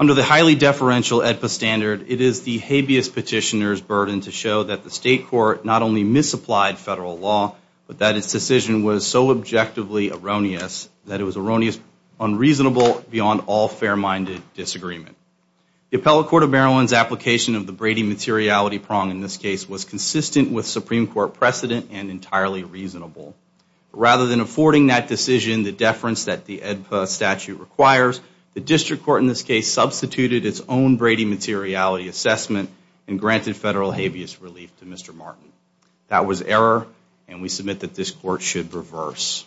Under the highly deferential AEDPA standard, it is the habeas petitioner's burden to show that the state court not only misapplied federal law, but that its decision was so objectively erroneous that it was erroneous, unreasonable, beyond all fair-minded disagreement. The Appellate Court of Maryland's application of the Brady materiality prong in this case was consistent with Supreme Court precedent and entirely reasonable. Rather than affording that decision the deference that the AEDPA statute requires, the district court in this case substituted its own Brady materiality assessment and granted federal habeas relief to Mr. Martin. That was error and we submit that this court should reverse.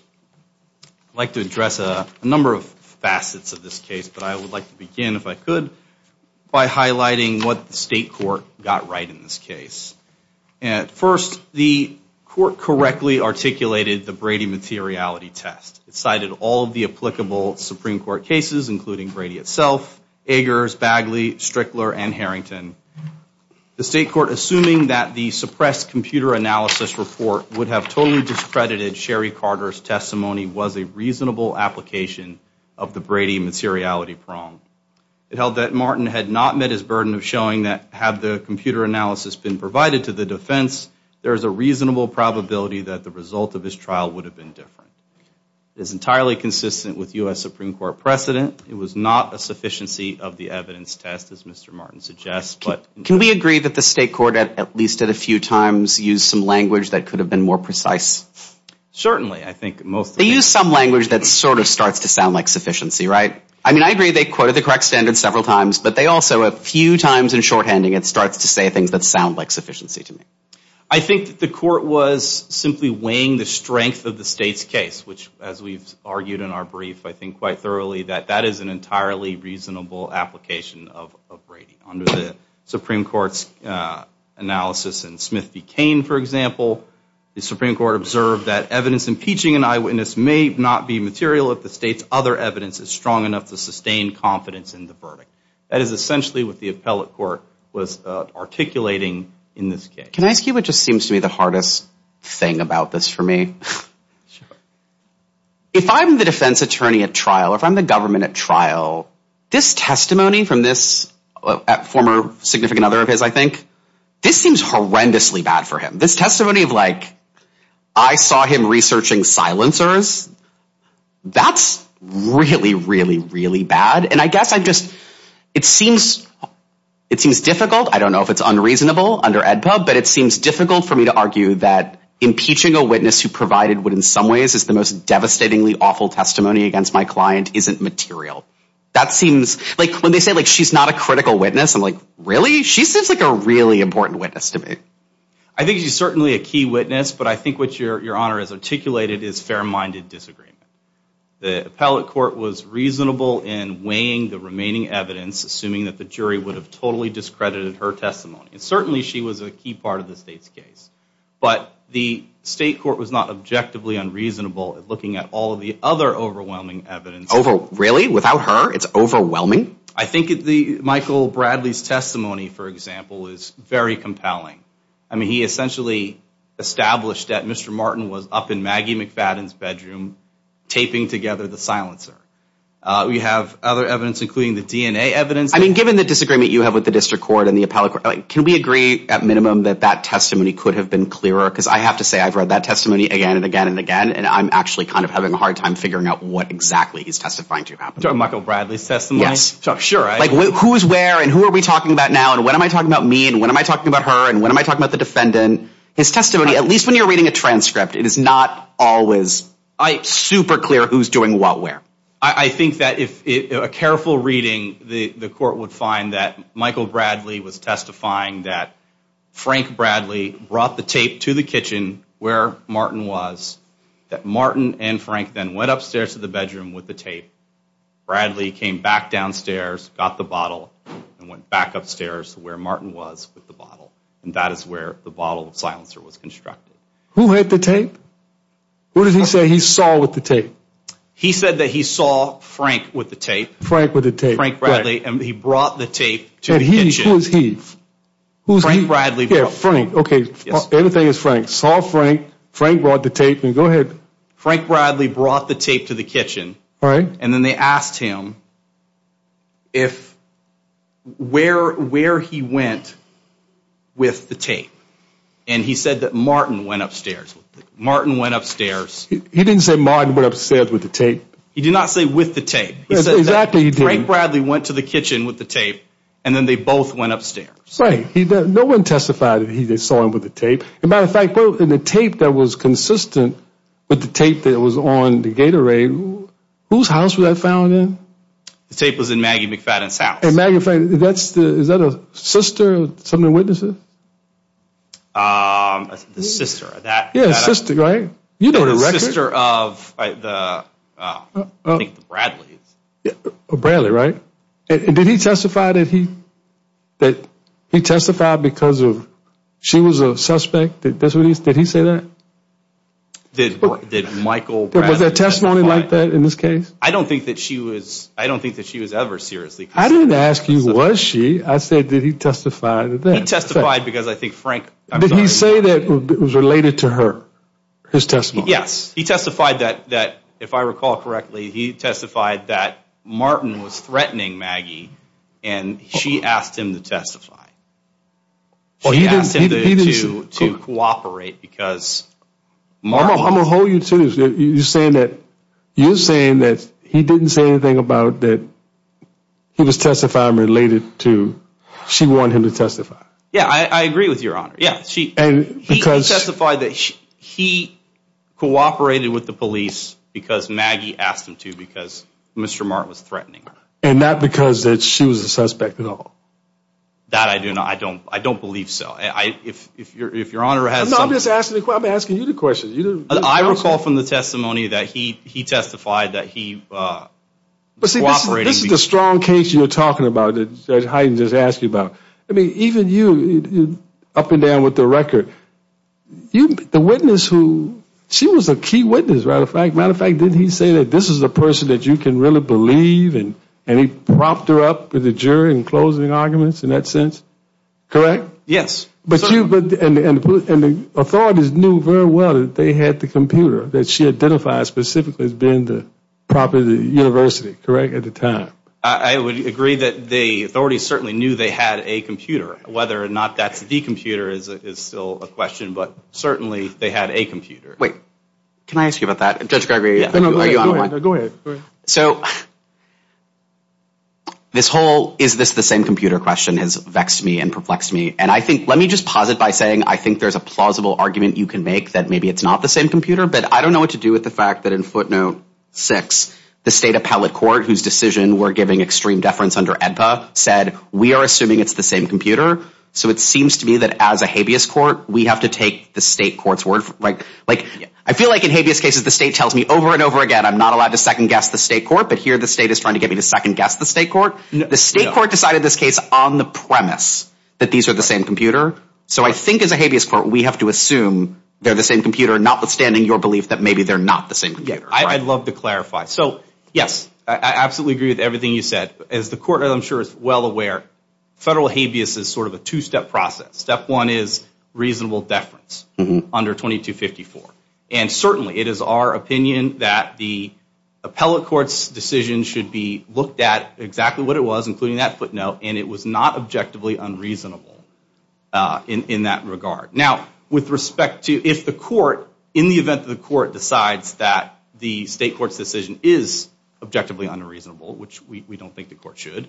I'd like to address a number of facets of this case, but I would like to begin, if I could, by highlighting what the state court got right in this case. At first, the court correctly articulated the Brady materiality test. It cited all of the applicable Supreme Court cases, including Brady itself, Eggers, Bagley, Strickler, and Harrington. The state court assuming that the suppressed computer analysis report would have totally discredited Sherry Carter's testimony was a reasonable application of the Brady materiality prong. It held that Martin had not met his burden of showing that, had the computer analysis been provided to the defense, there is a It is entirely consistent with US Supreme Court precedent. It was not a sufficiency of the evidence test, as Mr. Martin suggests. Can we agree that the state court, at least at a few times, used some language that could have been more precise? Certainly, I think. They used some language that sort of starts to sound like sufficiency, right? I mean, I agree they quoted the correct standard several times, but they also, a few times in shorthanding, it starts to say things that sound like sufficiency to me. I think the court was simply weighing the strength of the state's case, which as we've argued in our brief, I think quite thoroughly, that that is an entirely reasonable application of Brady. Under the Supreme Court's analysis in Smith v. Cain, for example, the Supreme Court observed that evidence impeaching an eyewitness may not be material if the state's other evidence is strong enough to sustain confidence in the verdict. That is essentially what the appellate court was articulating in this case. Can I say something to you? It just seems to be the hardest thing about this for me. If I'm the defense attorney at trial, if I'm the government at trial, this testimony from this former significant other of his, I think, this seems horrendously bad for him. This testimony of like, I saw him researching silencers, that's really, really, really bad, and I guess I just, it seems, it seems difficult. I don't know if it's unreasonable under AEDPA, but it seems difficult for me to argue that impeaching a witness who provided what in some ways is the most devastatingly awful testimony against my client isn't material. That seems like, when they say like, she's not a critical witness, I'm like, really? She seems like a really important witness to me. I think she's certainly a key witness, but I think what your Honor has articulated is fair-minded disagreement. The appellate court was reasonable in weighing the remaining evidence, assuming that the jury would have totally discredited her testimony, and certainly she was a key part of the state's case, but the state court was not objectively unreasonable at looking at all of the other overwhelming evidence. Over, really? Without her? It's overwhelming? I think the Michael Bradley's testimony, for example, is very compelling. I mean, he essentially established that Mr. Martin was up in Maggie McFadden's bedroom taping together the silencer. We have other evidence, including the DNA evidence. I mean, given the disagreement you have with the district court and the appellate court, can we agree at minimum that that testimony could have been clearer? Because I have to say, I've read that testimony again and again and again, and I'm actually kind of having a hard time figuring out what exactly he's testifying to. You're talking about Michael Bradley's testimony? Yes. Sure. Like, who's where and who are we talking about now, and when am I talking about me, and when am I talking about her, and when am I talking about the defendant? His testimony, at least when you're reading a transcript, it is not always super clear who's doing what where. I think that if a careful reading, the court would find that Michael Bradley was testifying that Frank Bradley brought the tape to the kitchen where Martin was, that Martin and Frank then went upstairs to the bedroom with the tape. Bradley came back downstairs, got the bottle, and went back upstairs where Martin was with the bottle, and that is where the bottle of silencer was constructed. Who had the tape? What did he say he saw with the tape? He said that he saw Frank with the tape. Frank with the tape. Frank Bradley, and he brought the tape to the kitchen. Who's he? Who's he? Frank Bradley. Yeah, Frank. Okay, everything is Frank. Saw Frank, Frank brought the tape, and go ahead. Frank Bradley brought the tape to the kitchen. All right. And then they asked him if, where he went with the tape, and he said that Martin went upstairs. Martin went upstairs. He didn't say Martin went upstairs with the tape. He did not say with the tape. He said that Frank Bradley went to the kitchen with the tape, and then they both went upstairs. Right. No one testified that he saw him with the tape. And by the fact, in the tape that was consistent with the tape that was on the Gatorade, whose house was that found in? The tape was in Maggie McFadden's house. And Maggie McFadden, that's the, is that a sister of some of the witnesses? The sister. That. Yeah, sister, right? You know the record. The sister of the, I think the Bradleys. Bradley, right? Did he testify that he, that he testified because of, she was a suspect? Did he say that? Did Michael Bradley testify? Was there testimony like that in this case? I don't think that she was, I don't think that she was ever seriously. I didn't ask you, was she? I said, did he testify? He testified because I think Frank. Did he say that it was related to her, his testimony? Yes. He testified that, if I recall correctly, he testified that Martin was threatening Maggie, and she asked him to testify. She asked him to cooperate because Martin. I'm going to hold you to it. You're saying that, you're saying that he didn't say anything about that he was testifying related to, she wanted him to testify. Yeah, I agree with your honor. Yeah, she, and he testified that he cooperated with the police because Maggie asked him to, because Mr. Martin was threatening her. And not because that she was a suspect at all. That I do not, I don't, I don't believe so. I, if, if you're, if your honor has. No, I'm just asking, I'm asking you the question. I recall from the testimony that he, he testified that he cooperated. This is the strong case you're talking about that Judge Hyden just asked you about. I mean, even you, up and down with the record, you, the witness who, she was a key witness, right? As a matter of fact, didn't he say that this is a person that you can really believe, and he propped her up with the jury in closing arguments? In that sense, correct? Yes. But you, and the authorities knew very well that they had the computer that she identified specifically as being the property of the university, correct, at the time? I would agree that the authorities certainly knew they had a computer. Whether or not that's the computer is still a question, but certainly they had a computer. Wait, can I ask you about that? Judge Gregory, are you on the line? Go ahead, go ahead. So, this whole, is this the same computer question? This whole question has vexed me and perplexed me, and I think, let me just posit by saying, I think there's a plausible argument you can make that maybe it's not the same computer, but I don't know what to do with the fact that in footnote six, the state appellate court, whose decision we're giving extreme deference under AEDPA, said, we are assuming it's the same computer, so it seems to me that as a habeas court, we have to take the state court's word, like, I feel like in habeas cases, the state tells me over and over again, I'm not allowed to second guess the state court, but here the state is trying to get me to second guess the state court. The state court decided this case on the premise that these are the same computer, so I think as a habeas court, we have to assume they're the same computer, notwithstanding your belief that maybe they're not the same computer. I'd love to clarify. So, yes, I absolutely agree with everything you said. As the court, I'm sure, is well aware, federal habeas is sort of a two-step process. Step one is reasonable deference under 2254, and certainly it is our opinion that the appellate court's decision should be looked at exactly what it was, including that footnote, and it was not objectively unreasonable in that regard. Now, with respect to, if the court, in the event that the court decides that the state court's decision is objectively unreasonable, which we don't think the court should,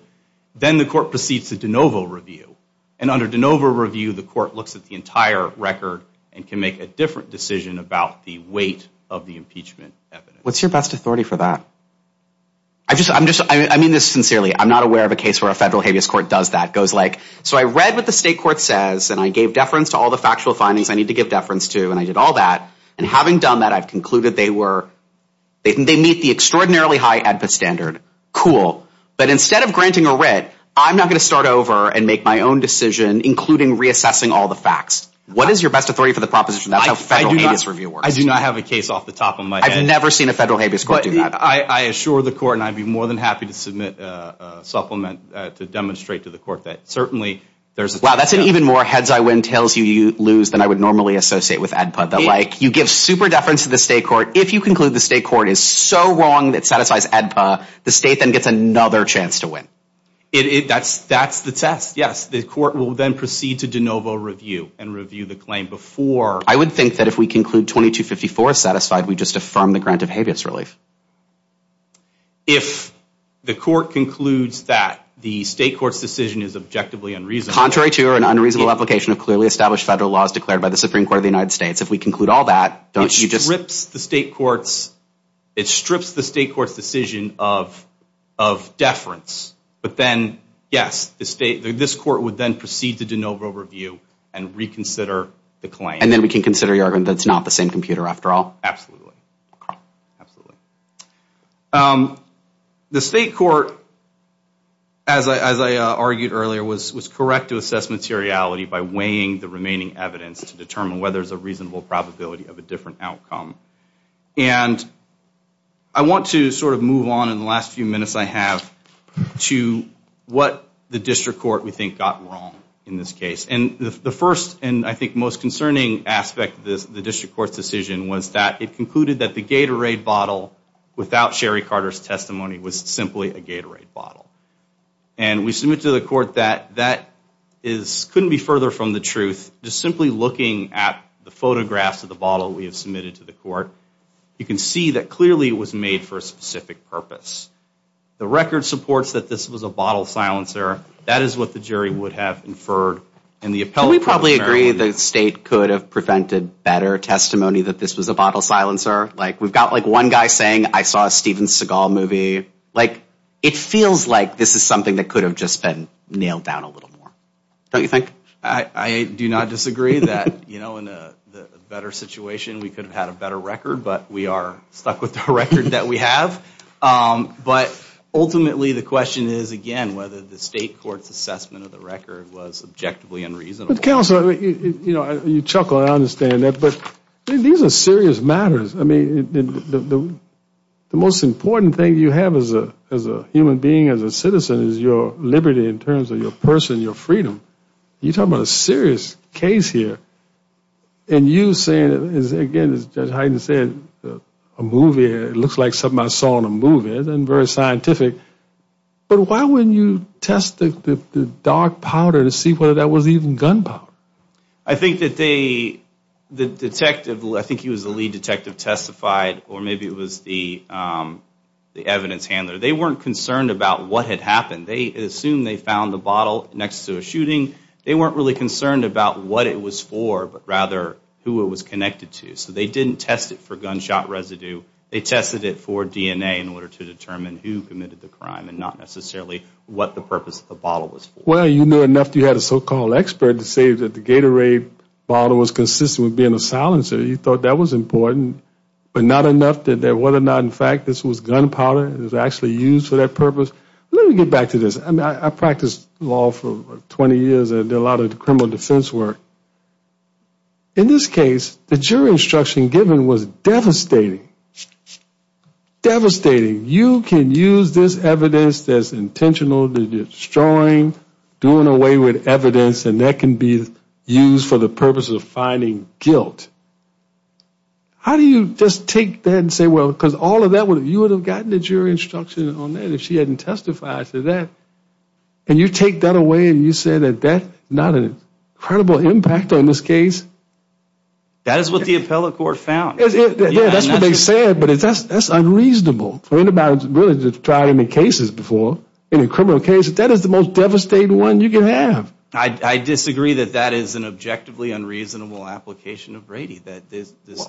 then the court proceeds to de novo review, and under de novo review, the court looks at the entire record and can make a different decision about the weight of the impeachment evidence. What's your best authority for that? I just, I'm just, I mean this sincerely. I'm not aware of a case where a federal habeas court does that. It goes like, so I read what the state court says, and I gave deference to all the factual findings I need to give deference to, and I did all that, and having done that, I've concluded they were, they meet the extraordinarily high AEDPA standard. Cool. But instead of granting a writ, I'm not going to start over and make my own decision, including reassessing all the facts. What is your best authority for the proposition? That's how federal habeas review works. I do not have a case off the top of my head. I've never seen a federal habeas court do that. I assure the court, and I'd be more than happy to submit a supplement to demonstrate to the court that certainly there's a... Wow, that's an even more heads I win, tails you lose than I would normally associate with AEDPA. That like, you give super deference to the state court, if you conclude the state court is so wrong that it satisfies AEDPA, the state then gets another chance to win. It, that's, that's the test. Yes, the court will then proceed to de novo review and review the claim before... I would think that if we conclude 2254 is satisfied, we just affirm the grant of habeas relief. If the court concludes that the state court's decision is objectively unreasonable... Contrary to an unreasonable application of clearly established federal laws declared by the Supreme Court of the United States. If we conclude all that, don't you just... It strips the state court's, it strips the state court's decision of, of deference. But then, yes, the state, this court would then proceed to de novo review and reconsider the claim. And then we can consider the argument that it's not the same computer after all. Absolutely. Absolutely. The state court, as I, as I argued earlier, was, was correct to assess materiality by weighing the remaining evidence to determine whether there's a reasonable probability of a different outcome. And I want to sort of move on in the last few minutes I have to what the district court we think got wrong in this case. And the first and I think most concerning aspect of this, the district court's decision was that it concluded that the Gatorade bottle without Sherry Carter's testimony was simply a Gatorade bottle. And we submit to the court that that is, couldn't be further from the truth. Just simply looking at the photographs of the bottle we have submitted to the court, you can see that clearly it was made for a specific purpose. The record supports that this was a bottle silencer. That is what the jury would have inferred. And the appellate... Do you disagree the state could have prevented better testimony that this was a bottle silencer? Like, we've got like one guy saying I saw a Steven Seagal movie. Like, it feels like this is something that could have just been nailed down a little more. Don't you think? I do not disagree that, you know, in a better situation we could have had a better record, but we are stuck with the record that we have. But ultimately the question is, again, whether the state court's assessment of the record was objectively unreasonable. Counselor, you know, you chuckle and I understand that, but these are serious matters. I mean, the most important thing you have as a human being, as a citizen, is your liberty in terms of your person, your freedom. You talk about a serious case here, and you say, again, as Judge Hyden said, a movie, it looks like something I saw in a movie. It isn't very scientific, but why wouldn't you test the dark powder to see whether that was even gunpowder? I think that they, the detective, I think he was the lead detective, testified, or maybe it was the evidence handler. They weren't concerned about what had happened. They assumed they found the bottle next to a shooting. They weren't really concerned about what it was for, but rather who it was connected to. So they didn't test it for gunshot residue. They tested it for DNA in order to determine who committed the crime and not necessarily what the purpose of the bottle was. Well, you knew enough that you had a so-called expert to say that the Gatorade bottle was consistent with being a silencer. You thought that was important, but not enough that whether or not, in fact, this was gunpowder, it was actually used for that purpose. Let me get back to this. I practiced law for 20 years and did a lot of criminal defense work. In this case, the jury instruction given was devastating, devastating. You can use this evidence that's intentional, that you're destroying, doing away with evidence, and that can be used for the purpose of finding guilt. How do you just take that and say, well, because all of that, you would have gotten the jury instruction on that if she hadn't testified to that. And you take that away and you say that that's not an incredible impact on this case? That is what the appellate court found. That's what they said, but that's unreasonable. I mean, I haven't really tried any cases before, any criminal cases. That is the most devastating one you can have. I disagree that that is an objectively unreasonable application of Brady.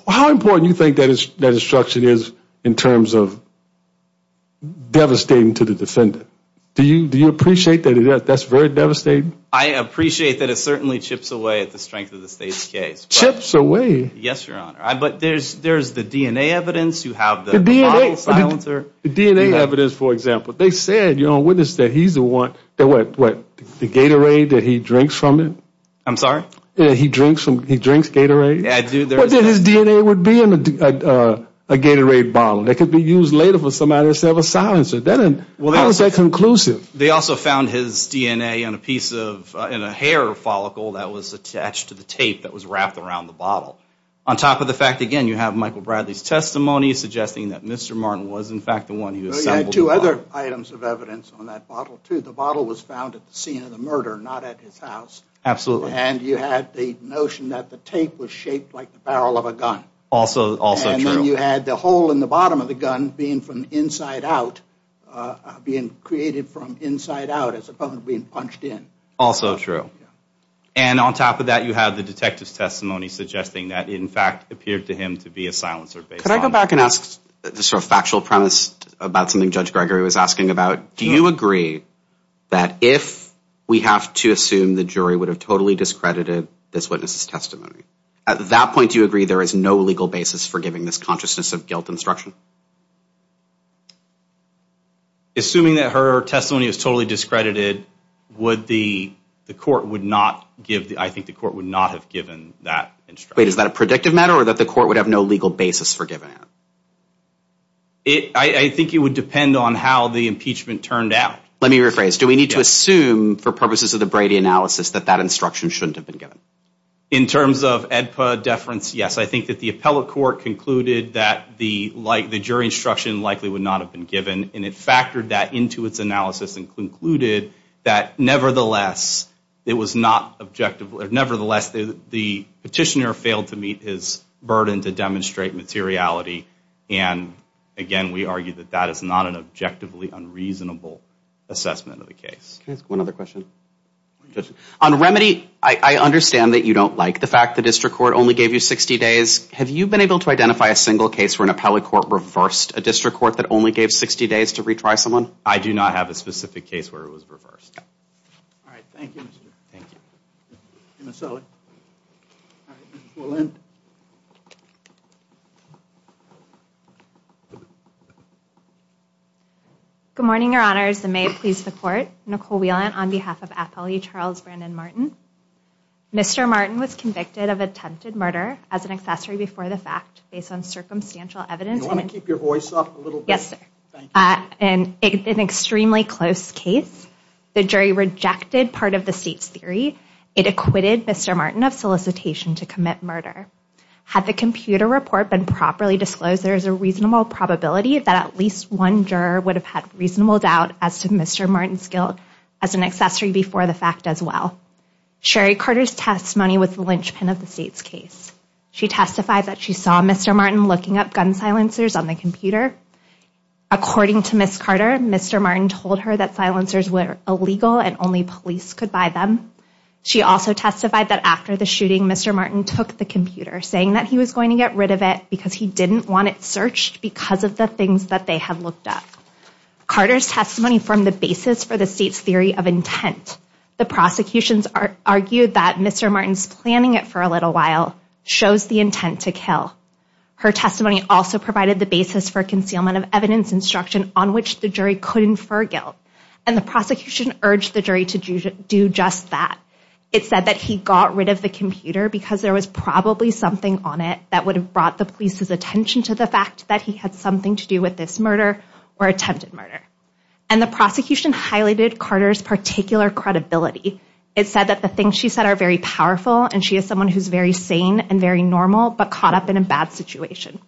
How important do you think that instruction is in terms of devastating to the defendant? Do you appreciate that that's very devastating? I appreciate that it certainly chips away at the strength of the State's case. Chips away? Yes, Your Honor. But there's the DNA evidence. You have the bottle silencer. The DNA evidence, for example. They said, Your Honor, witness that he's the one, what, the Gatorade that he drinks from it? I'm sorry? He drinks Gatorade? His DNA would be in a Gatorade bottle that could be used later for somebody to sell a silencer. How is that conclusive? They also found his DNA in a hair follicle that was attached to the tape that was wrapped around the bottle. On top of the fact, again, you have Michael Bradley's testimony suggesting that Mr. Martin was, in fact, the one who assembled the bottle. You had two other items of evidence on that bottle, too. The bottle was found at the scene of the murder, not at his house. Absolutely. And you had the notion that the tape was shaped like the barrel of a gun. Also true. And then you had the hole in the bottom of the gun being from inside out, being created from inside out as opposed to being punched in. Also true. And on top of that, you have the detective's testimony suggesting that it, in fact, appeared to him to be a silencer. Could I go back and ask the sort of factual premise about something Judge Gregory was asking about? Do you agree that if we have to assume the jury would have totally discredited this witness's testimony, at that point do you agree there is no legal basis for giving this consciousness of guilt instruction? Assuming that her testimony is totally discredited, I think the court would not have given that instruction. Wait, is that a predictive matter or that the court would have no legal basis for giving it? I think it would depend on how the impeachment turned out. Let me rephrase. Do we need to assume, for purposes of the Brady analysis, that that instruction shouldn't have been given? In terms of AEDPA deference, yes. I think that the appellate court concluded that the jury instruction likely would not have been given. And it factored that into its analysis and concluded that, nevertheless, it was not objective. Nevertheless, the petitioner failed to meet his burden to demonstrate materiality. And, again, we argue that that is not an objectively unreasonable assessment of the case. Can I ask one other question? On remedy, I understand that you don't like the fact the district court only gave you 60 days Have you been able to identify a single case where an appellate court reversed a district court that only gave 60 days to retry someone? I do not have a specific case where it was reversed. All right. Thank you. Thank you. Ms. Sully. All right. Ms. Wolin. Good morning, Your Honors. And may it please the court, Nicole Whelan on behalf of Appellee Charles Brandon Martin. Mr. Martin was convicted of attempted murder as an accessory before the fact based on circumstantial evidence. Do you want to keep your voice up a little bit? Yes, sir. Thank you. An extremely close case. The jury rejected part of the state's theory. It acquitted Mr. Martin of solicitation to commit murder. Had the computer report been properly disclosed, there is a reasonable probability that at least one juror would have had reasonable doubt as to Mr. Martin's guilt as an accessory before the fact as well. Sherry Carter's testimony was the linchpin of the state's case. She testified that she saw Mr. Martin looking up gun silencers on the computer. According to Ms. Carter, Mr. Martin told her that silencers were illegal and only police could buy them. She also testified that after the shooting, Mr. Martin took the computer, saying that he was going to get rid of it because he didn't want it searched because of the things that they had looked up. Carter's testimony formed the basis for the state's theory of intent. The prosecutions argued that Mr. Martin's planning it for a little while shows the intent to kill. Her testimony also provided the basis for concealment of evidence instruction on which the jury could infer guilt. And the prosecution urged the jury to do just that. It said that he got rid of the computer because there was probably something on it that would have brought the police's attention to the fact that he had something to do with this murder or attempted murder. And the prosecution highlighted Carter's particular credibility. It said that the things she said are very powerful and she is someone who's very sane and very normal but caught up in a bad situation.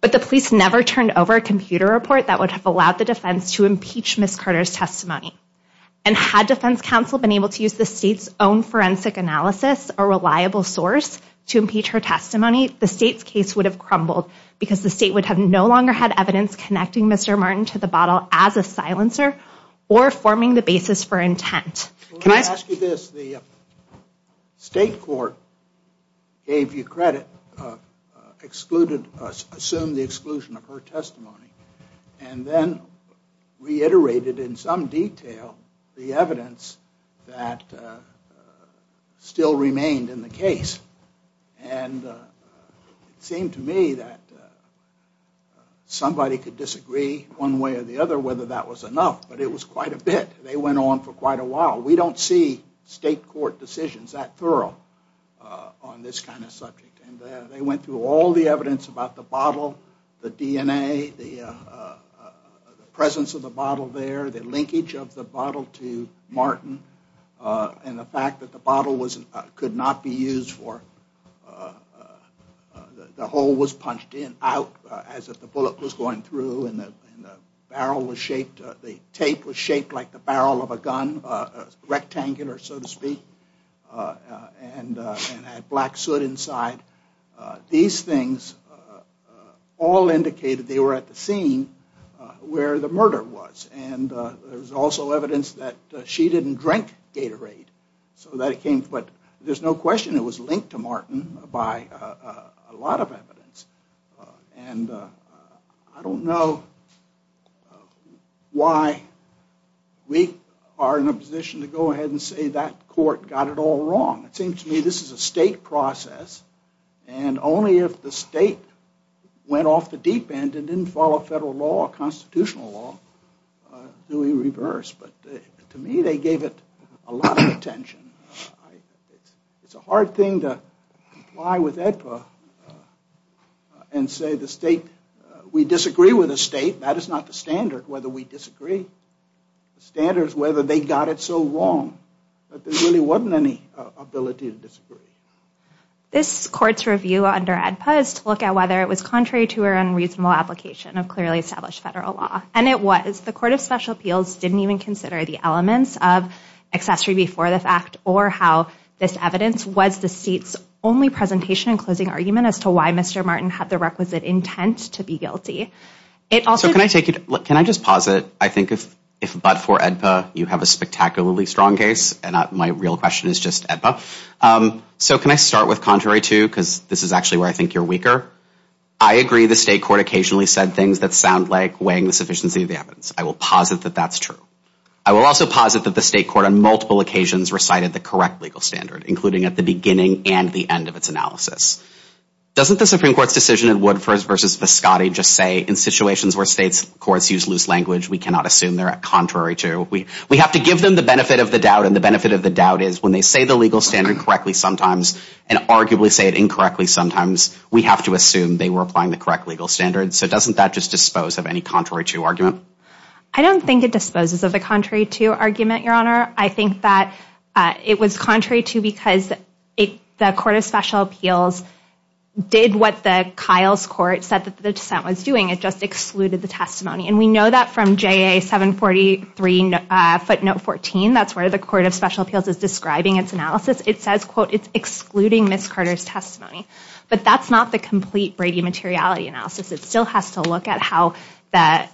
But the police never turned over a computer report that would have allowed the defense to impeach Ms. Carter's testimony. And had defense counsel been able to use the state's own forensic analysis, a reliable source, to impeach her testimony, the state's case would have crumbled because the state would have no longer had evidence connecting Mr. Martin to the bottle as a silencer or forming the basis for intent. The state court gave you credit, assumed the exclusion of her testimony, and then reiterated in some detail the evidence that still remained in the case. And it seemed to me that somebody could disagree one way or the other whether that was enough, but it was quite a bit. They went on for quite a while. We don't see state court decisions that thorough on this kind of subject. And they went through all the evidence about the bottle, the DNA, the presence of the bottle there, the linkage of the bottle to Martin, and the fact that the bottle could not be used for – the hole was punched in out as if the bullet was going through and the barrel was shaped, the tape was shaped like the barrel of a gun, rectangular so to speak, and had black soot inside. These things all indicated they were at the scene where the murder was. And there was also evidence that she didn't drink Gatorade. But there's no question it was linked to Martin by a lot of evidence. And I don't know why we are in a position to go ahead and say that court got it all wrong. It seems to me this is a state process and only if the state went off the deep end and didn't follow federal law or constitutional law do we reverse. But to me they gave it a lot of attention. It's a hard thing to comply with AEDPA and say the state – we disagree with the state. That is not the standard whether we disagree. The standard is whether they got it so wrong that there really wasn't any ability to disagree. This court's review under AEDPA is to look at whether it was contrary to her unreasonable application of clearly established federal law. And it was. The Court of Special Appeals didn't even consider the elements of accessory before the fact or how this evidence was the state's only presentation and closing argument as to why Mr. Martin had the requisite intent to be guilty. Can I just posit I think if but for AEDPA you have a spectacularly strong case and my real question is just AEDPA. So can I start with contrary to because this is actually where I think you're weaker. I agree the state court occasionally said things that sound like weighing the sufficiency of the evidence. I will posit that that's true. I will also posit that the state court on multiple occasions recited the correct legal standard including at the beginning and the end of its analysis. Doesn't the Supreme Court's decision in Woodford versus Viscotti just say in situations where states courts use loose language we cannot assume they're contrary to. We have to give them the benefit of the doubt and the benefit of the doubt is when they say the legal standard correctly sometimes and arguably say it incorrectly sometimes we have to assume they were applying the correct legal standard. So doesn't that just dispose of any contrary to argument? I don't think it disposes of a contrary to argument, Your Honor. I think that it was contrary to because the Court of Special Appeals did what the Kyle's Court said that the dissent was doing. It just excluded the testimony and we know that from JA 743 footnote 14. That's where the Court of Special Appeals is describing its analysis. It says quote it's excluding Ms. Carter's testimony but that's not the complete Brady materiality analysis. It still has to look at how the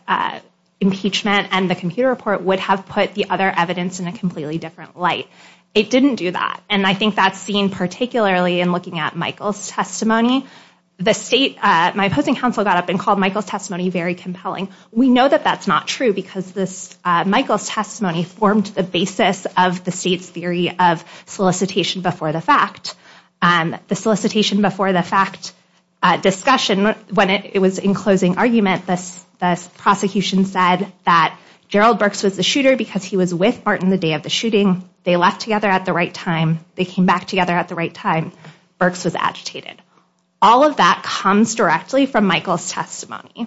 impeachment and the computer report would have put the other evidence in a completely different light. It didn't do that and I think that's seen particularly in looking at Michael's testimony. The state, my opposing counsel got up and called Michael's testimony very compelling. We know that that's not true because this Michael's testimony formed the basis of the state's theory of solicitation before the fact. The solicitation before the fact discussion when it was in closing argument, this prosecution said that Gerald Burks was the shooter because he was with Martin the day of the shooting. They left together at the right time. They came back together at the right time. Burks was agitated. All of that comes directly from Michael's testimony.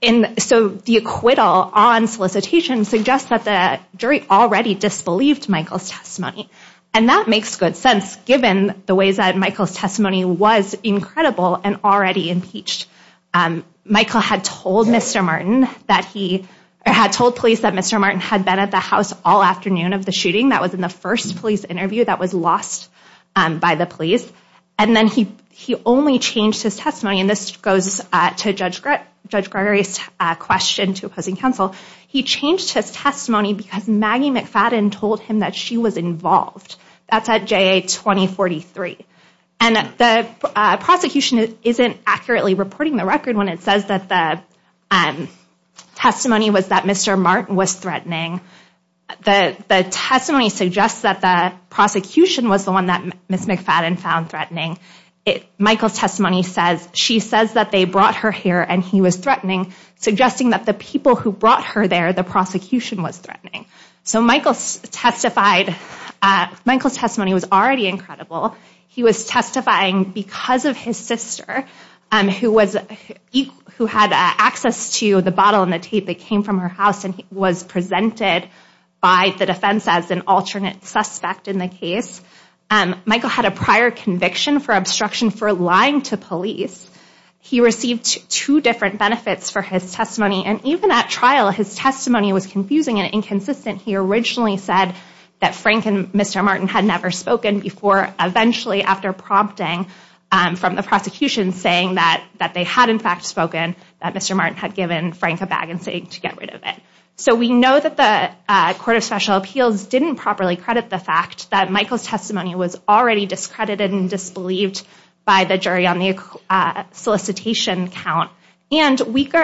And so the acquittal on solicitation suggests that the jury already disbelieved Michael's testimony. And that makes good sense given the ways that Michael's testimony was incredible and already impeached. Michael had told Mr. Martin that he had told police that Mr. Martin had been at the house all afternoon of the shooting. That was in the first police interview that was lost by the police. And then he only changed his testimony and this goes to Judge Gregory's question to opposing counsel. He changed his testimony because Maggie McFadden told him that she was involved. That's at JA 2043. And the prosecution isn't accurately reporting the record when it says that the testimony was that Mr. Martin was threatening. The testimony suggests that the prosecution was the one that Ms. McFadden found threatening. Michael's testimony says she says that they brought her here and he was threatening, suggesting that the people who brought her there, the prosecution was threatening. So Michael's testimony was already incredible. He was testifying because of his sister who had access to the bottle and the tape that came from her house and was presented by the defense as an alternate suspect in the case. Michael had a prior conviction for obstruction for lying to police. He received two different benefits for his testimony and even at trial his testimony was confusing and inconsistent. He originally said that Frank and Mr. Martin had never spoken before. Eventually after prompting from the prosecution saying that they had in fact spoken, that Mr. Martin had given Frank a bag and saying to get rid of it. So we know that the Court of Special Appeals didn't properly credit the fact that Michael's testimony was already discredited and disbelieved by the jury on the solicitation count. And weak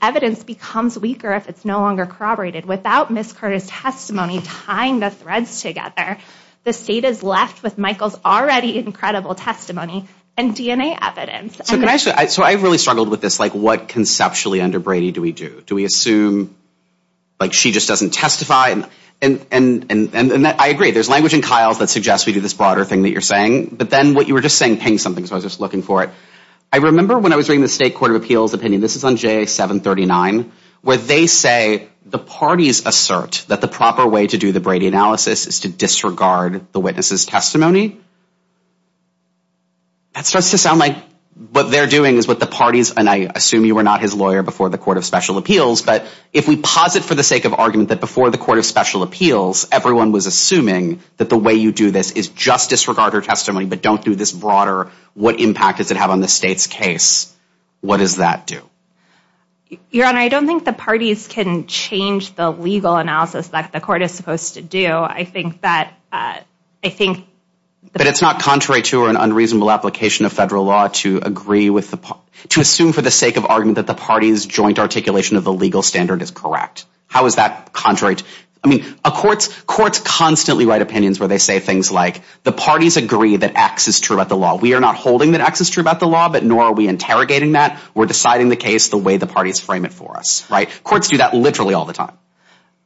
evidence becomes weaker if it's no longer corroborated. Without Ms. Carter's testimony tying the threads together, the state is left with Michael's already incredible testimony and DNA evidence. So I really struggled with this like what conceptually under Brady do we do? Do we assume like she just doesn't testify? And I agree there's language in Kyle's that suggests we do this broader thing that you're saying. But then what you were just saying pinged something so I was just looking for it. I remember when I was reading the state Court of Appeals opinion, this is on JA 739, where they say the parties assert that the proper way to do the Brady analysis is to disregard the witness's testimony. That starts to sound like what they're doing is what the parties, and I assume you were not his lawyer before the Court of Special Appeals, but if we posit for the sake of argument that before the Court of Special Appeals, everyone was assuming that the way you do this is just disregard her testimony, but don't do this broader, what impact does it have on the state's case? What does that do? Your Honor, I don't think the parties can change the legal analysis that the court is supposed to do. But it's not contrary to an unreasonable application of federal law to assume for the sake of argument that the party's joint articulation of the legal standard is correct. How is that contrary? Courts constantly write opinions where they say things like the parties agree that X is true about the law. We are not holding that X is true about the law, but nor are we interrogating that. We're deciding the case the way the parties frame it for us. Courts do that literally all the time.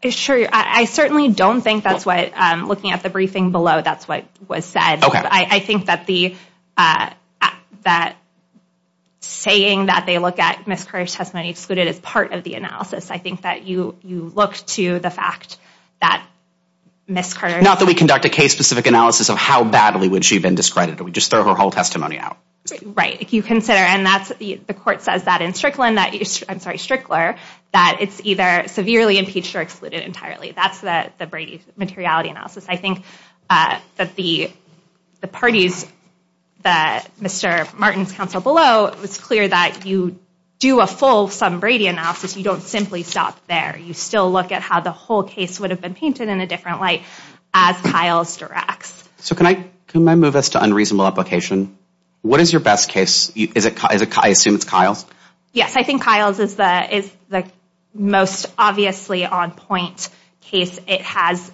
I certainly don't think that's what, looking at the briefing below, that's what was said. I think that saying that they look at Ms. Carter's testimony excluded is part of the analysis. I think that you look to the fact that Ms. Carter... Not that we conduct a case-specific analysis of how badly would she have been discredited. We just throw her whole testimony out. Right, if you consider, and the court says that in Strickland, I'm sorry, Strickler, that it's either severely impeached or excluded entirely. That's the Brady materiality analysis. I think that the parties, Mr. Martin's counsel below, it was clear that you do a full sum Brady analysis. You don't simply stop there. You still look at how the whole case would have been painted in a different light as Kyles directs. So can I move us to unreasonable application? What is your best case? I assume it's Kyles? Yes, I think Kyles is the most obviously on-point case. It has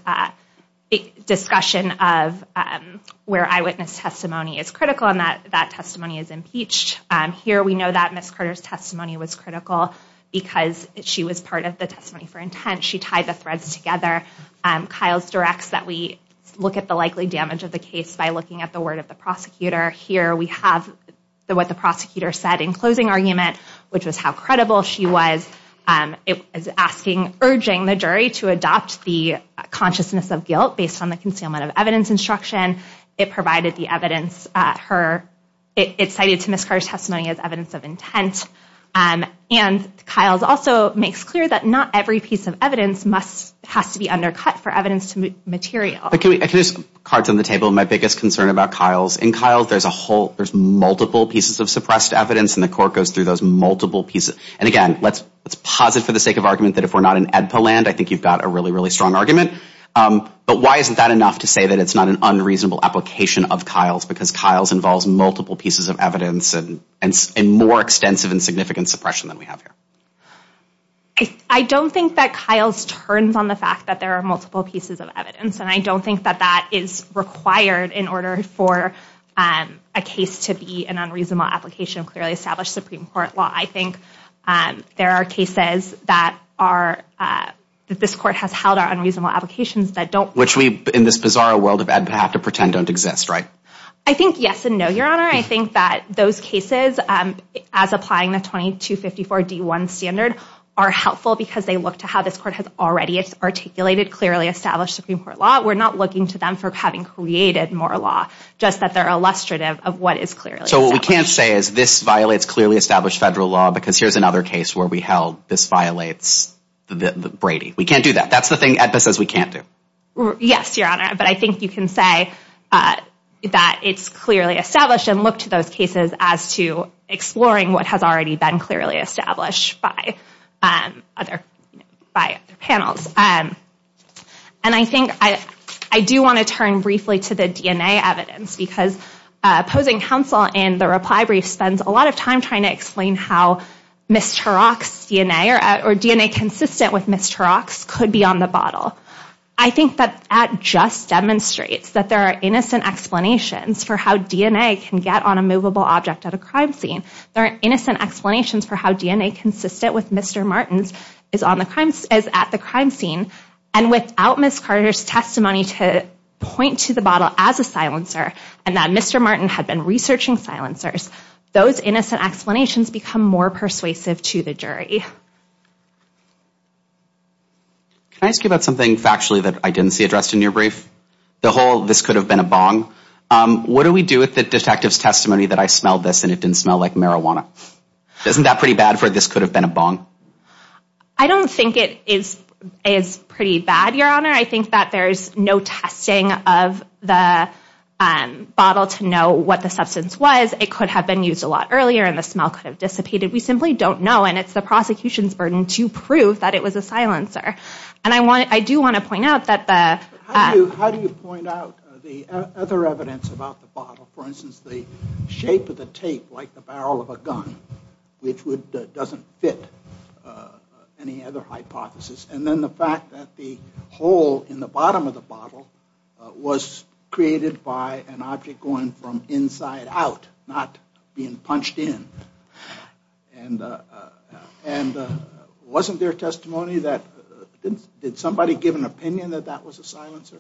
discussion of where eyewitness testimony is critical and that that testimony is impeached. Here we know that Ms. Carter's testimony was critical because she was part of the testimony for intent. She tied the threads together. Kyles directs that we look at the likely damage of the case by looking at the word of the prosecutor. Here we have what the prosecutor said in closing argument, which was how credible she was. It is asking, urging the jury to adopt the consciousness of guilt based on the concealment of evidence instruction. It provided the evidence at her. It cited to Ms. Carter's testimony as evidence of intent. And Kyles also makes clear that not every piece of evidence must has to be undercut for evidence to material. I can use cards on the table. My biggest concern about Kyles, in Kyles there's a whole, there's multiple pieces of suppressed evidence. And the court goes through those multiple pieces. And again, let's posit for the sake of argument that if we're not in Edpa land, I think you've got a really, really strong argument. But why isn't that enough to say that it's not an unreasonable application of Kyles? Because Kyles involves multiple pieces of evidence and more extensive and significant suppression than we have here. I don't think that Kyles turns on the fact that there are multiple pieces of evidence. And I don't think that that is required in order for a case to be an unreasonable application of clearly established Supreme Court law. I think there are cases that are, that this court has held are unreasonable applications that don't. Which we, in this bizarre world of Edpa, have to pretend don't exist, right? I think yes and no, Your Honor. I think that those cases as applying the 2254 D1 standard are helpful because they look to how this court has already articulated clearly established Supreme Court law. We're not looking to them for having created more law. Just that they're illustrative of what is clearly established. So what we can't say is this violates clearly established federal law because here's another case where we held this violates Brady. We can't do that. That's the thing Edpa says we can't do. Yes, Your Honor. But I think you can say that it's clearly established and look to those cases as to exploring what has already been clearly established by other panels. And I think I do want to turn briefly to the DNA evidence because opposing counsel in the reply brief spends a lot of time trying to explain how Mr. Rock's DNA or DNA consistent with Mr. Rock's could be on the bottle. I think that that just demonstrates that there are innocent explanations for how DNA can get on a movable object at a crime scene. There are innocent explanations for how DNA consistent with Mr. Martin's is at the crime scene. And without Ms. Carter's testimony to point to the bottle as a silencer and that Mr. Martin had been researching silencers, those innocent explanations become more persuasive to the jury. Can I ask you about something factually that I didn't see addressed in your brief? The whole this could have been a bong. What do we do with the detective's testimony that I smelled this and it didn't smell like marijuana? Isn't that pretty bad for this could have been a bong? I don't think it is pretty bad, Your Honor. I think that there is no testing of the bottle to know what the substance was. It could have been used a lot earlier and the smell could have dissipated. We simply don't know and it's the prosecution's burden to prove that it was a silencer. And I do want to point out that the- How do you point out the other evidence about the bottle? For instance, the shape of the tape like the barrel of a gun, which doesn't fit any other hypothesis. And then the fact that the hole in the bottom of the bottle was created by an object going from inside out, not being punched in. And wasn't there testimony that- Did somebody give an opinion that that was a silencer?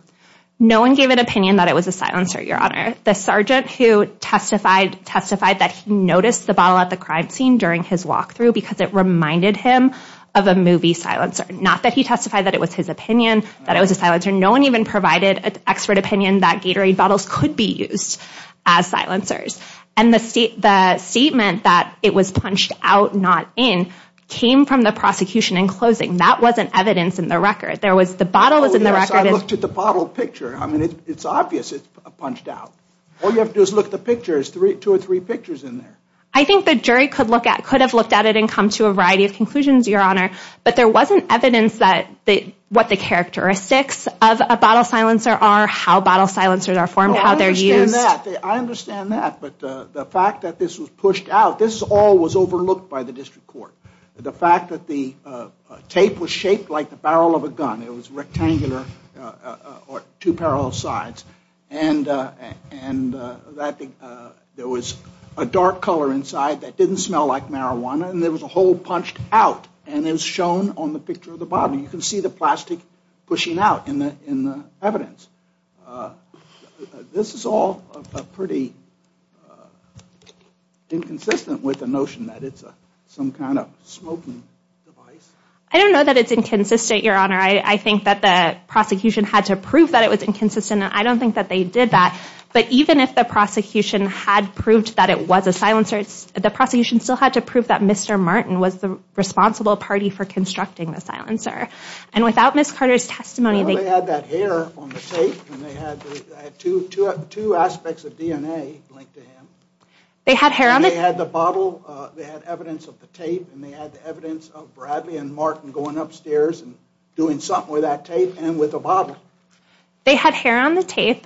No one gave an opinion that it was a silencer, Your Honor. The sergeant who testified, testified that he noticed the bottle at the crime scene during his walkthrough because it reminded him of a movie silencer. Not that he testified that it was his opinion that it was a silencer. No one even provided an expert opinion that Gatorade bottles could be used as silencers. And the statement that it was punched out, not in, came from the prosecution in closing. That wasn't evidence in the record. There was- The bottle was in the record. I looked at the bottle picture. I mean, it's obvious it's punched out. All you have to do is look at the picture. There's two or three pictures in there. I think the jury could have looked at it and come to a variety of conclusions, Your Honor. But there wasn't evidence that what the characteristics of a bottle silencer are, how bottle silencers are formed, how they're used. I understand that. I understand that. But the fact that this was pushed out, this all was overlooked by the district court. The fact that the tape was shaped like the barrel of a gun. It was rectangular or two parallel sides. And there was a dark color inside that didn't smell like marijuana. And there was a hole punched out. And it was shown on the picture of the bottle. You can see the plastic pushing out in the evidence. This is all pretty inconsistent with the notion that it's some kind of smoking device. I don't know that it's inconsistent, Your Honor. I think that the prosecution had to prove that it was inconsistent. And I don't think that they did that. But even if the prosecution had proved that it was a silencer, the prosecution still had to prove that Mr. Martin was the responsible party for constructing the silencer. And without Ms. Carter's testimony- They had that hair on the tape. And they had two aspects of DNA linked to him. They had hair on the- They had the bottle. They had evidence of the tape. And they had evidence of Bradley and Martin going upstairs and doing something with that tape and with the bottle. They had hair on the tape.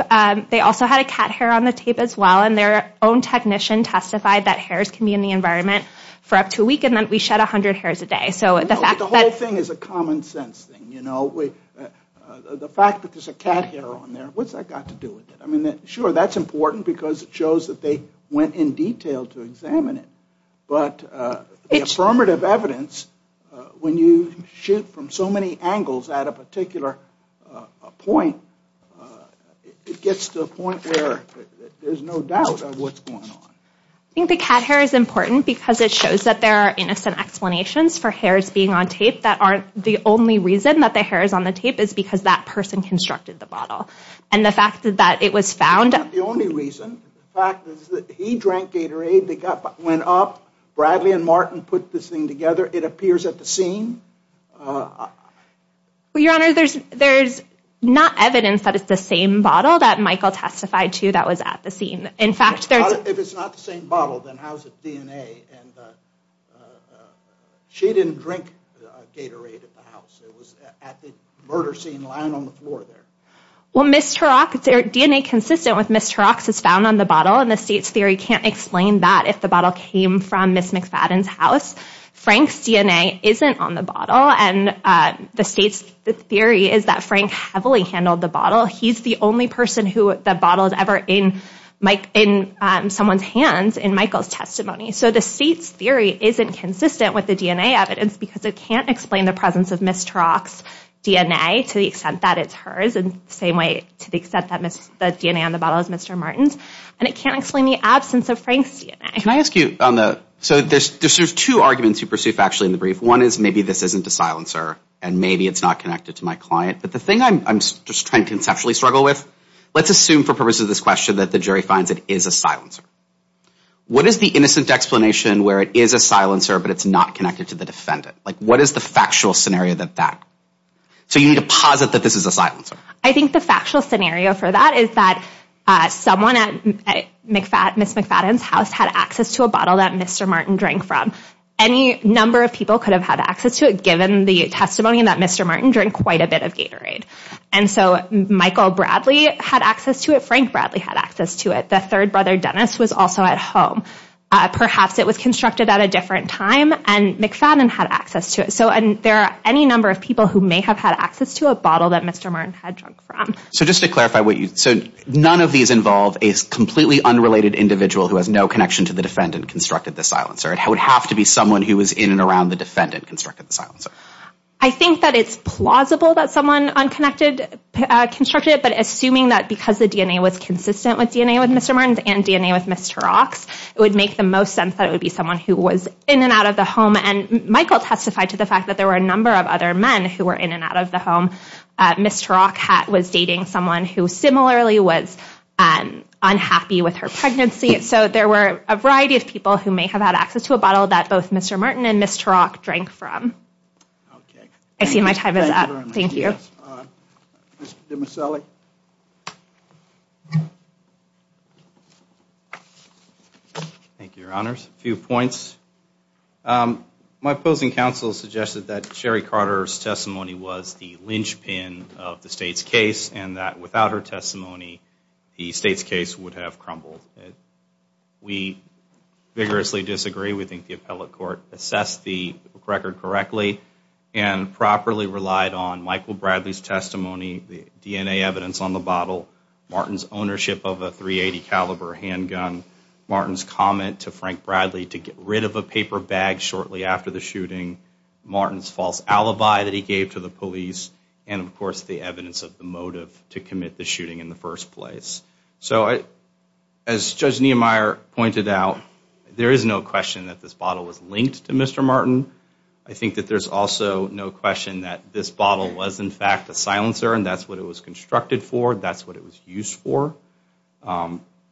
They also had a cat hair on the tape as well. And their own technician testified that hairs can be in the environment for up to a week. And then we shed 100 hairs a day. No, but the whole thing is a common sense thing. The fact that there's a cat hair on there, what's that got to do with it? I mean, sure, that's important because it shows that they went in detail to examine it. But the affirmative evidence, when you shoot from so many angles at a particular point, it gets to a point where there's no doubt of what's going on. I think the cat hair is important because it shows that there are innocent explanations for hairs being on tape that aren't the only reason that the hair is on the tape is because that person constructed the bottle. And the fact that it was found- It's not the only reason. The fact is that he drank Gatorade. They went up. Bradley and Martin put this thing together. It appears at the scene. Well, Your Honor, there's not evidence that it's the same bottle that Michael testified to that was at the scene. In fact, there's- If it's not the same bottle, then how is it DNA? She didn't drink Gatorade at the house. It was at the murder scene lying on the floor there. Well, DNA consistent with Ms. Turok's is found on the bottle, and the state's theory can't explain that if the bottle came from Ms. McFadden's house. Frank's DNA isn't on the bottle, and the state's theory is that Frank heavily handled the bottle. He's the only person who the bottle is ever in someone's hands in Michael's testimony. So the state's theory isn't consistent with the DNA evidence because it can't explain the presence of Ms. Turok's DNA to the extent that it's hers in the same way to the extent that the DNA on the bottle is Mr. Martin's. And it can't explain the absence of Frank's DNA. Can I ask you on the- So there's two arguments you pursue factually in the brief. One is maybe this isn't a silencer, and maybe it's not connected to my client. But the thing I'm just trying to conceptually struggle with, let's assume for purposes of this question that the jury finds it is a silencer. What is the innocent explanation where it is a silencer, but it's not connected to the defendant? Like what is the factual scenario that that- So you need to posit that this is a silencer. I think the factual scenario for that is that someone at Ms. McFadden's house had access to a bottle that Mr. Martin drank from. Any number of people could have had access to it given the testimony that Mr. Martin drank quite a bit of Gatorade. And so Michael Bradley had access to it. Frank Bradley had access to it. The third brother, Dennis, was also at home. Perhaps it was constructed at a different time, and McFadden had access to it. So there are any number of people who may have had access to a bottle that Mr. Martin had drunk from. So just to clarify what you- So none of these involve a completely unrelated individual who has no connection to the defendant constructed the silencer. It would have to be someone who was in and around the defendant constructed the silencer. I think that it's plausible that someone unconnected constructed it, but assuming that because the DNA was consistent with DNA with Mr. Martin's and DNA with Ms. Turok's, it would make the most sense that it would be someone who was in and out of the home. And Michael testified to the fact that there were a number of other men who were in and out of the home. Ms. Turok was dating someone who similarly was unhappy with her pregnancy. So there were a variety of people who may have had access to a bottle that both Mr. Martin and Ms. Turok drank from. I see my time is up. Thank you. Mr. DiMasselli? Thank you, Your Honors. A few points. My opposing counsel suggested that Sherry Carter's testimony was the linchpin of the State's case, and that without her testimony, the State's case would have crumbled. We vigorously disagree. We think the appellate court assessed the record correctly and properly relied on Michael Bradley's testimony, the DNA evidence on the bottle, Martin's ownership of a .380 caliber handgun, Martin's comment to Frank Bradley to get rid of a paper bag shortly after the shooting, Martin's false alibi that he gave to the police, and, of course, the evidence of the motive to commit the shooting in the first place. So as Judge Niemeyer pointed out, there is no question that this bottle was linked to Mr. Martin. I think that there's also no question that this bottle was, in fact, a silencer, and that's what it was constructed for. That's what it was used for.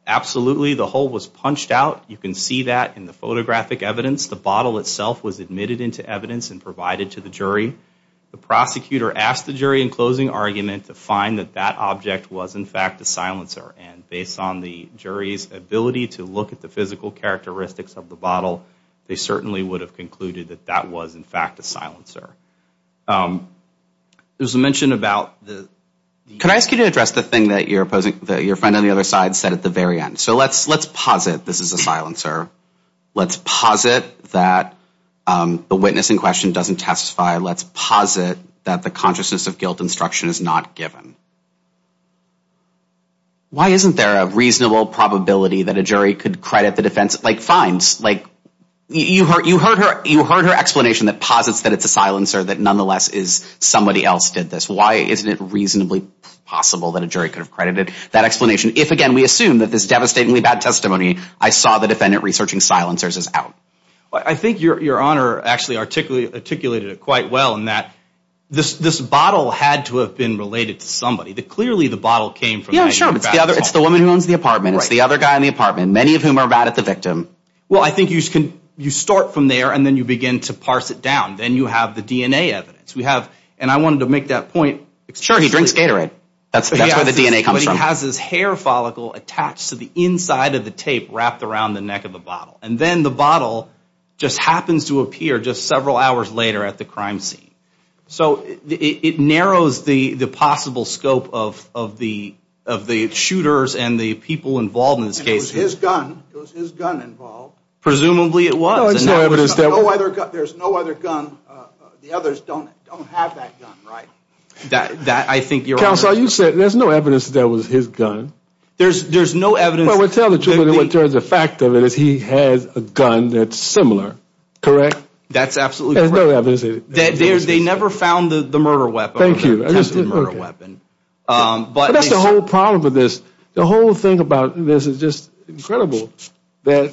Absolutely, the hole was punched out. You can see that in the photographic evidence. The bottle itself was admitted into evidence and provided to the jury. The prosecutor asked the jury in closing argument to find that that object was, in fact, a silencer, and based on the jury's ability to look at the physical characteristics of the bottle, they certainly would have concluded that that was, in fact, a silencer. There's a mention about the— Can I ask you to address the thing that your friend on the other side said at the very end? So let's posit this is a silencer. Let's posit that the witness in question doesn't testify. Let's posit that the consciousness of guilt instruction is not given. Why isn't there a reasonable probability that a jury could credit the defense? Like, fines. You heard her explanation that posits that it's a silencer, that nonetheless somebody else did this. Why isn't it reasonably possible that a jury could have credited that explanation if, again, we assume that this devastatingly bad testimony, I saw the defendant researching silencers, is out? I think your Honor actually articulated it quite well in that this bottle had to have been related to somebody. Clearly, the bottle came from— Yeah, sure. It's the woman who owns the apartment. It's the other guy in the apartment, many of whom are mad at the victim. Well, I think you start from there, and then you begin to parse it down. Then you have the DNA evidence. We have—and I wanted to make that point— Sure, he drinks Gatorade. That's where the DNA comes from. He has his hair follicle attached to the inside of the tape wrapped around the neck of the bottle. And then the bottle just happens to appear just several hours later at the crime scene. So it narrows the possible scope of the shooters and the people involved in this case. It was his gun. It was his gun involved. Presumably it was. No, there's no evidence that— There's no other gun. The others don't have that gun, right? That, I think, Your Honor— I saw you said there's no evidence that that was his gun. There's no evidence— Well, tell the truth of it. The fact of it is he has a gun that's similar, correct? That's absolutely correct. There's no evidence of it. They never found the murder weapon. Thank you. But that's the whole problem with this. The whole thing about this is just incredible that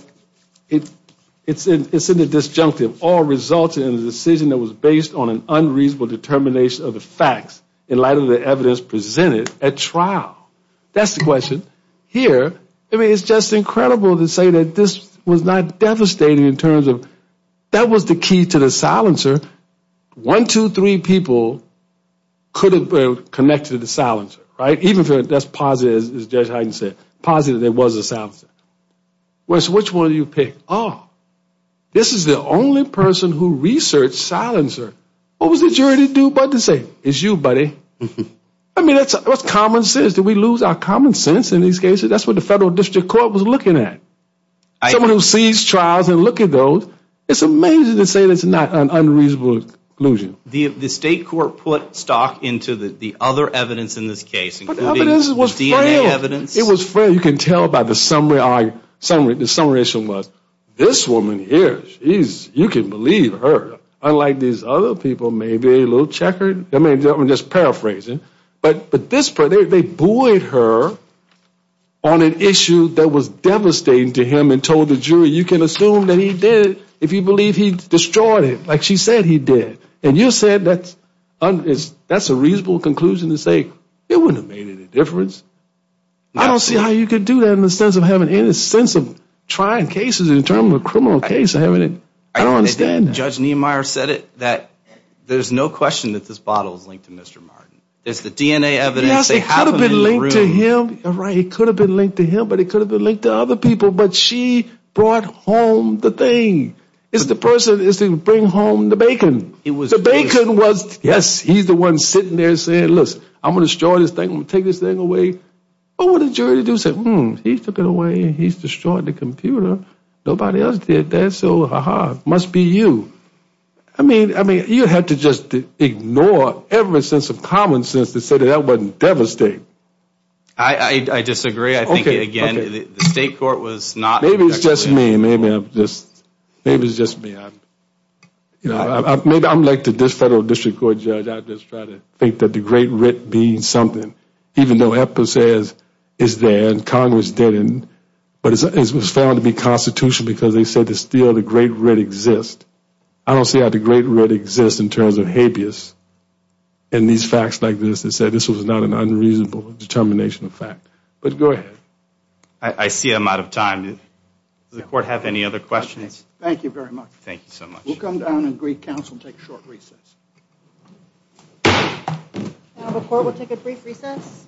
it's in the disjunctive. All results in the decision that was based on an unreasonable determination of the facts in light of the evidence presented at trial. That's the question. Here, I mean, it's just incredible to say that this was not devastating in terms of that was the key to the silencer. One, two, three people could have connected to the silencer, right? Even if that's positive, as Judge Heiden said, positive there was a silencer. So which one do you pick? Oh, this is the only person who researched silencer. What was the jury to do but to say, It's you, buddy. I mean, what's common sense? Did we lose our common sense in these cases? That's what the federal district court was looking at. Someone who sees trials and look at those, it's amazing to say it's not an unreasonable conclusion. The state court put stock into the other evidence in this case, including the DNA evidence. It was fair. You can tell by the summary. The summarization was, this woman here, you can believe her. Unlike these other people, maybe a little checkered. I'm just paraphrasing. But they buoyed her on an issue that was devastating to him and told the jury, You can assume that he did it if you believe he destroyed it, like she said he did. And you said that's a reasonable conclusion to say it wouldn't have made any difference. I don't see how you could do that in the sense of having any sense of trying cases in terms of a criminal case. Judge Niemeyer said it, that there's no question that this bottle is linked to Mr. Martin. It's the DNA evidence. It could have been linked to him, but it could have been linked to other people. But she brought home the thing. The person is to bring home the bacon. The bacon was, yes, he's the one sitting there saying, Look, I'm going to destroy this thing, I'm going to take this thing away. What would a jury do? He took it away and he's destroyed the computer. Nobody else did that. So, aha, it must be you. I mean, you had to just ignore every sense of common sense to say that that wasn't devastating. I disagree. I think, again, the state court was not. Maybe it's just me. Maybe it's just me. Maybe I'm like this federal district court judge. I just try to think that the great writ be something. Even though EPPA says it's there and Congress didn't, but it was found to be constitutional because they said that still the great writ exists. I don't see how the great writ exists in terms of habeas in these facts like this. They said this was not an unreasonable determination of fact. But go ahead. I see I'm out of time. Does the court have any other questions? Thank you very much. Thank you so much. We'll come down and greet counsel and take a short recess. The court will take a brief recess.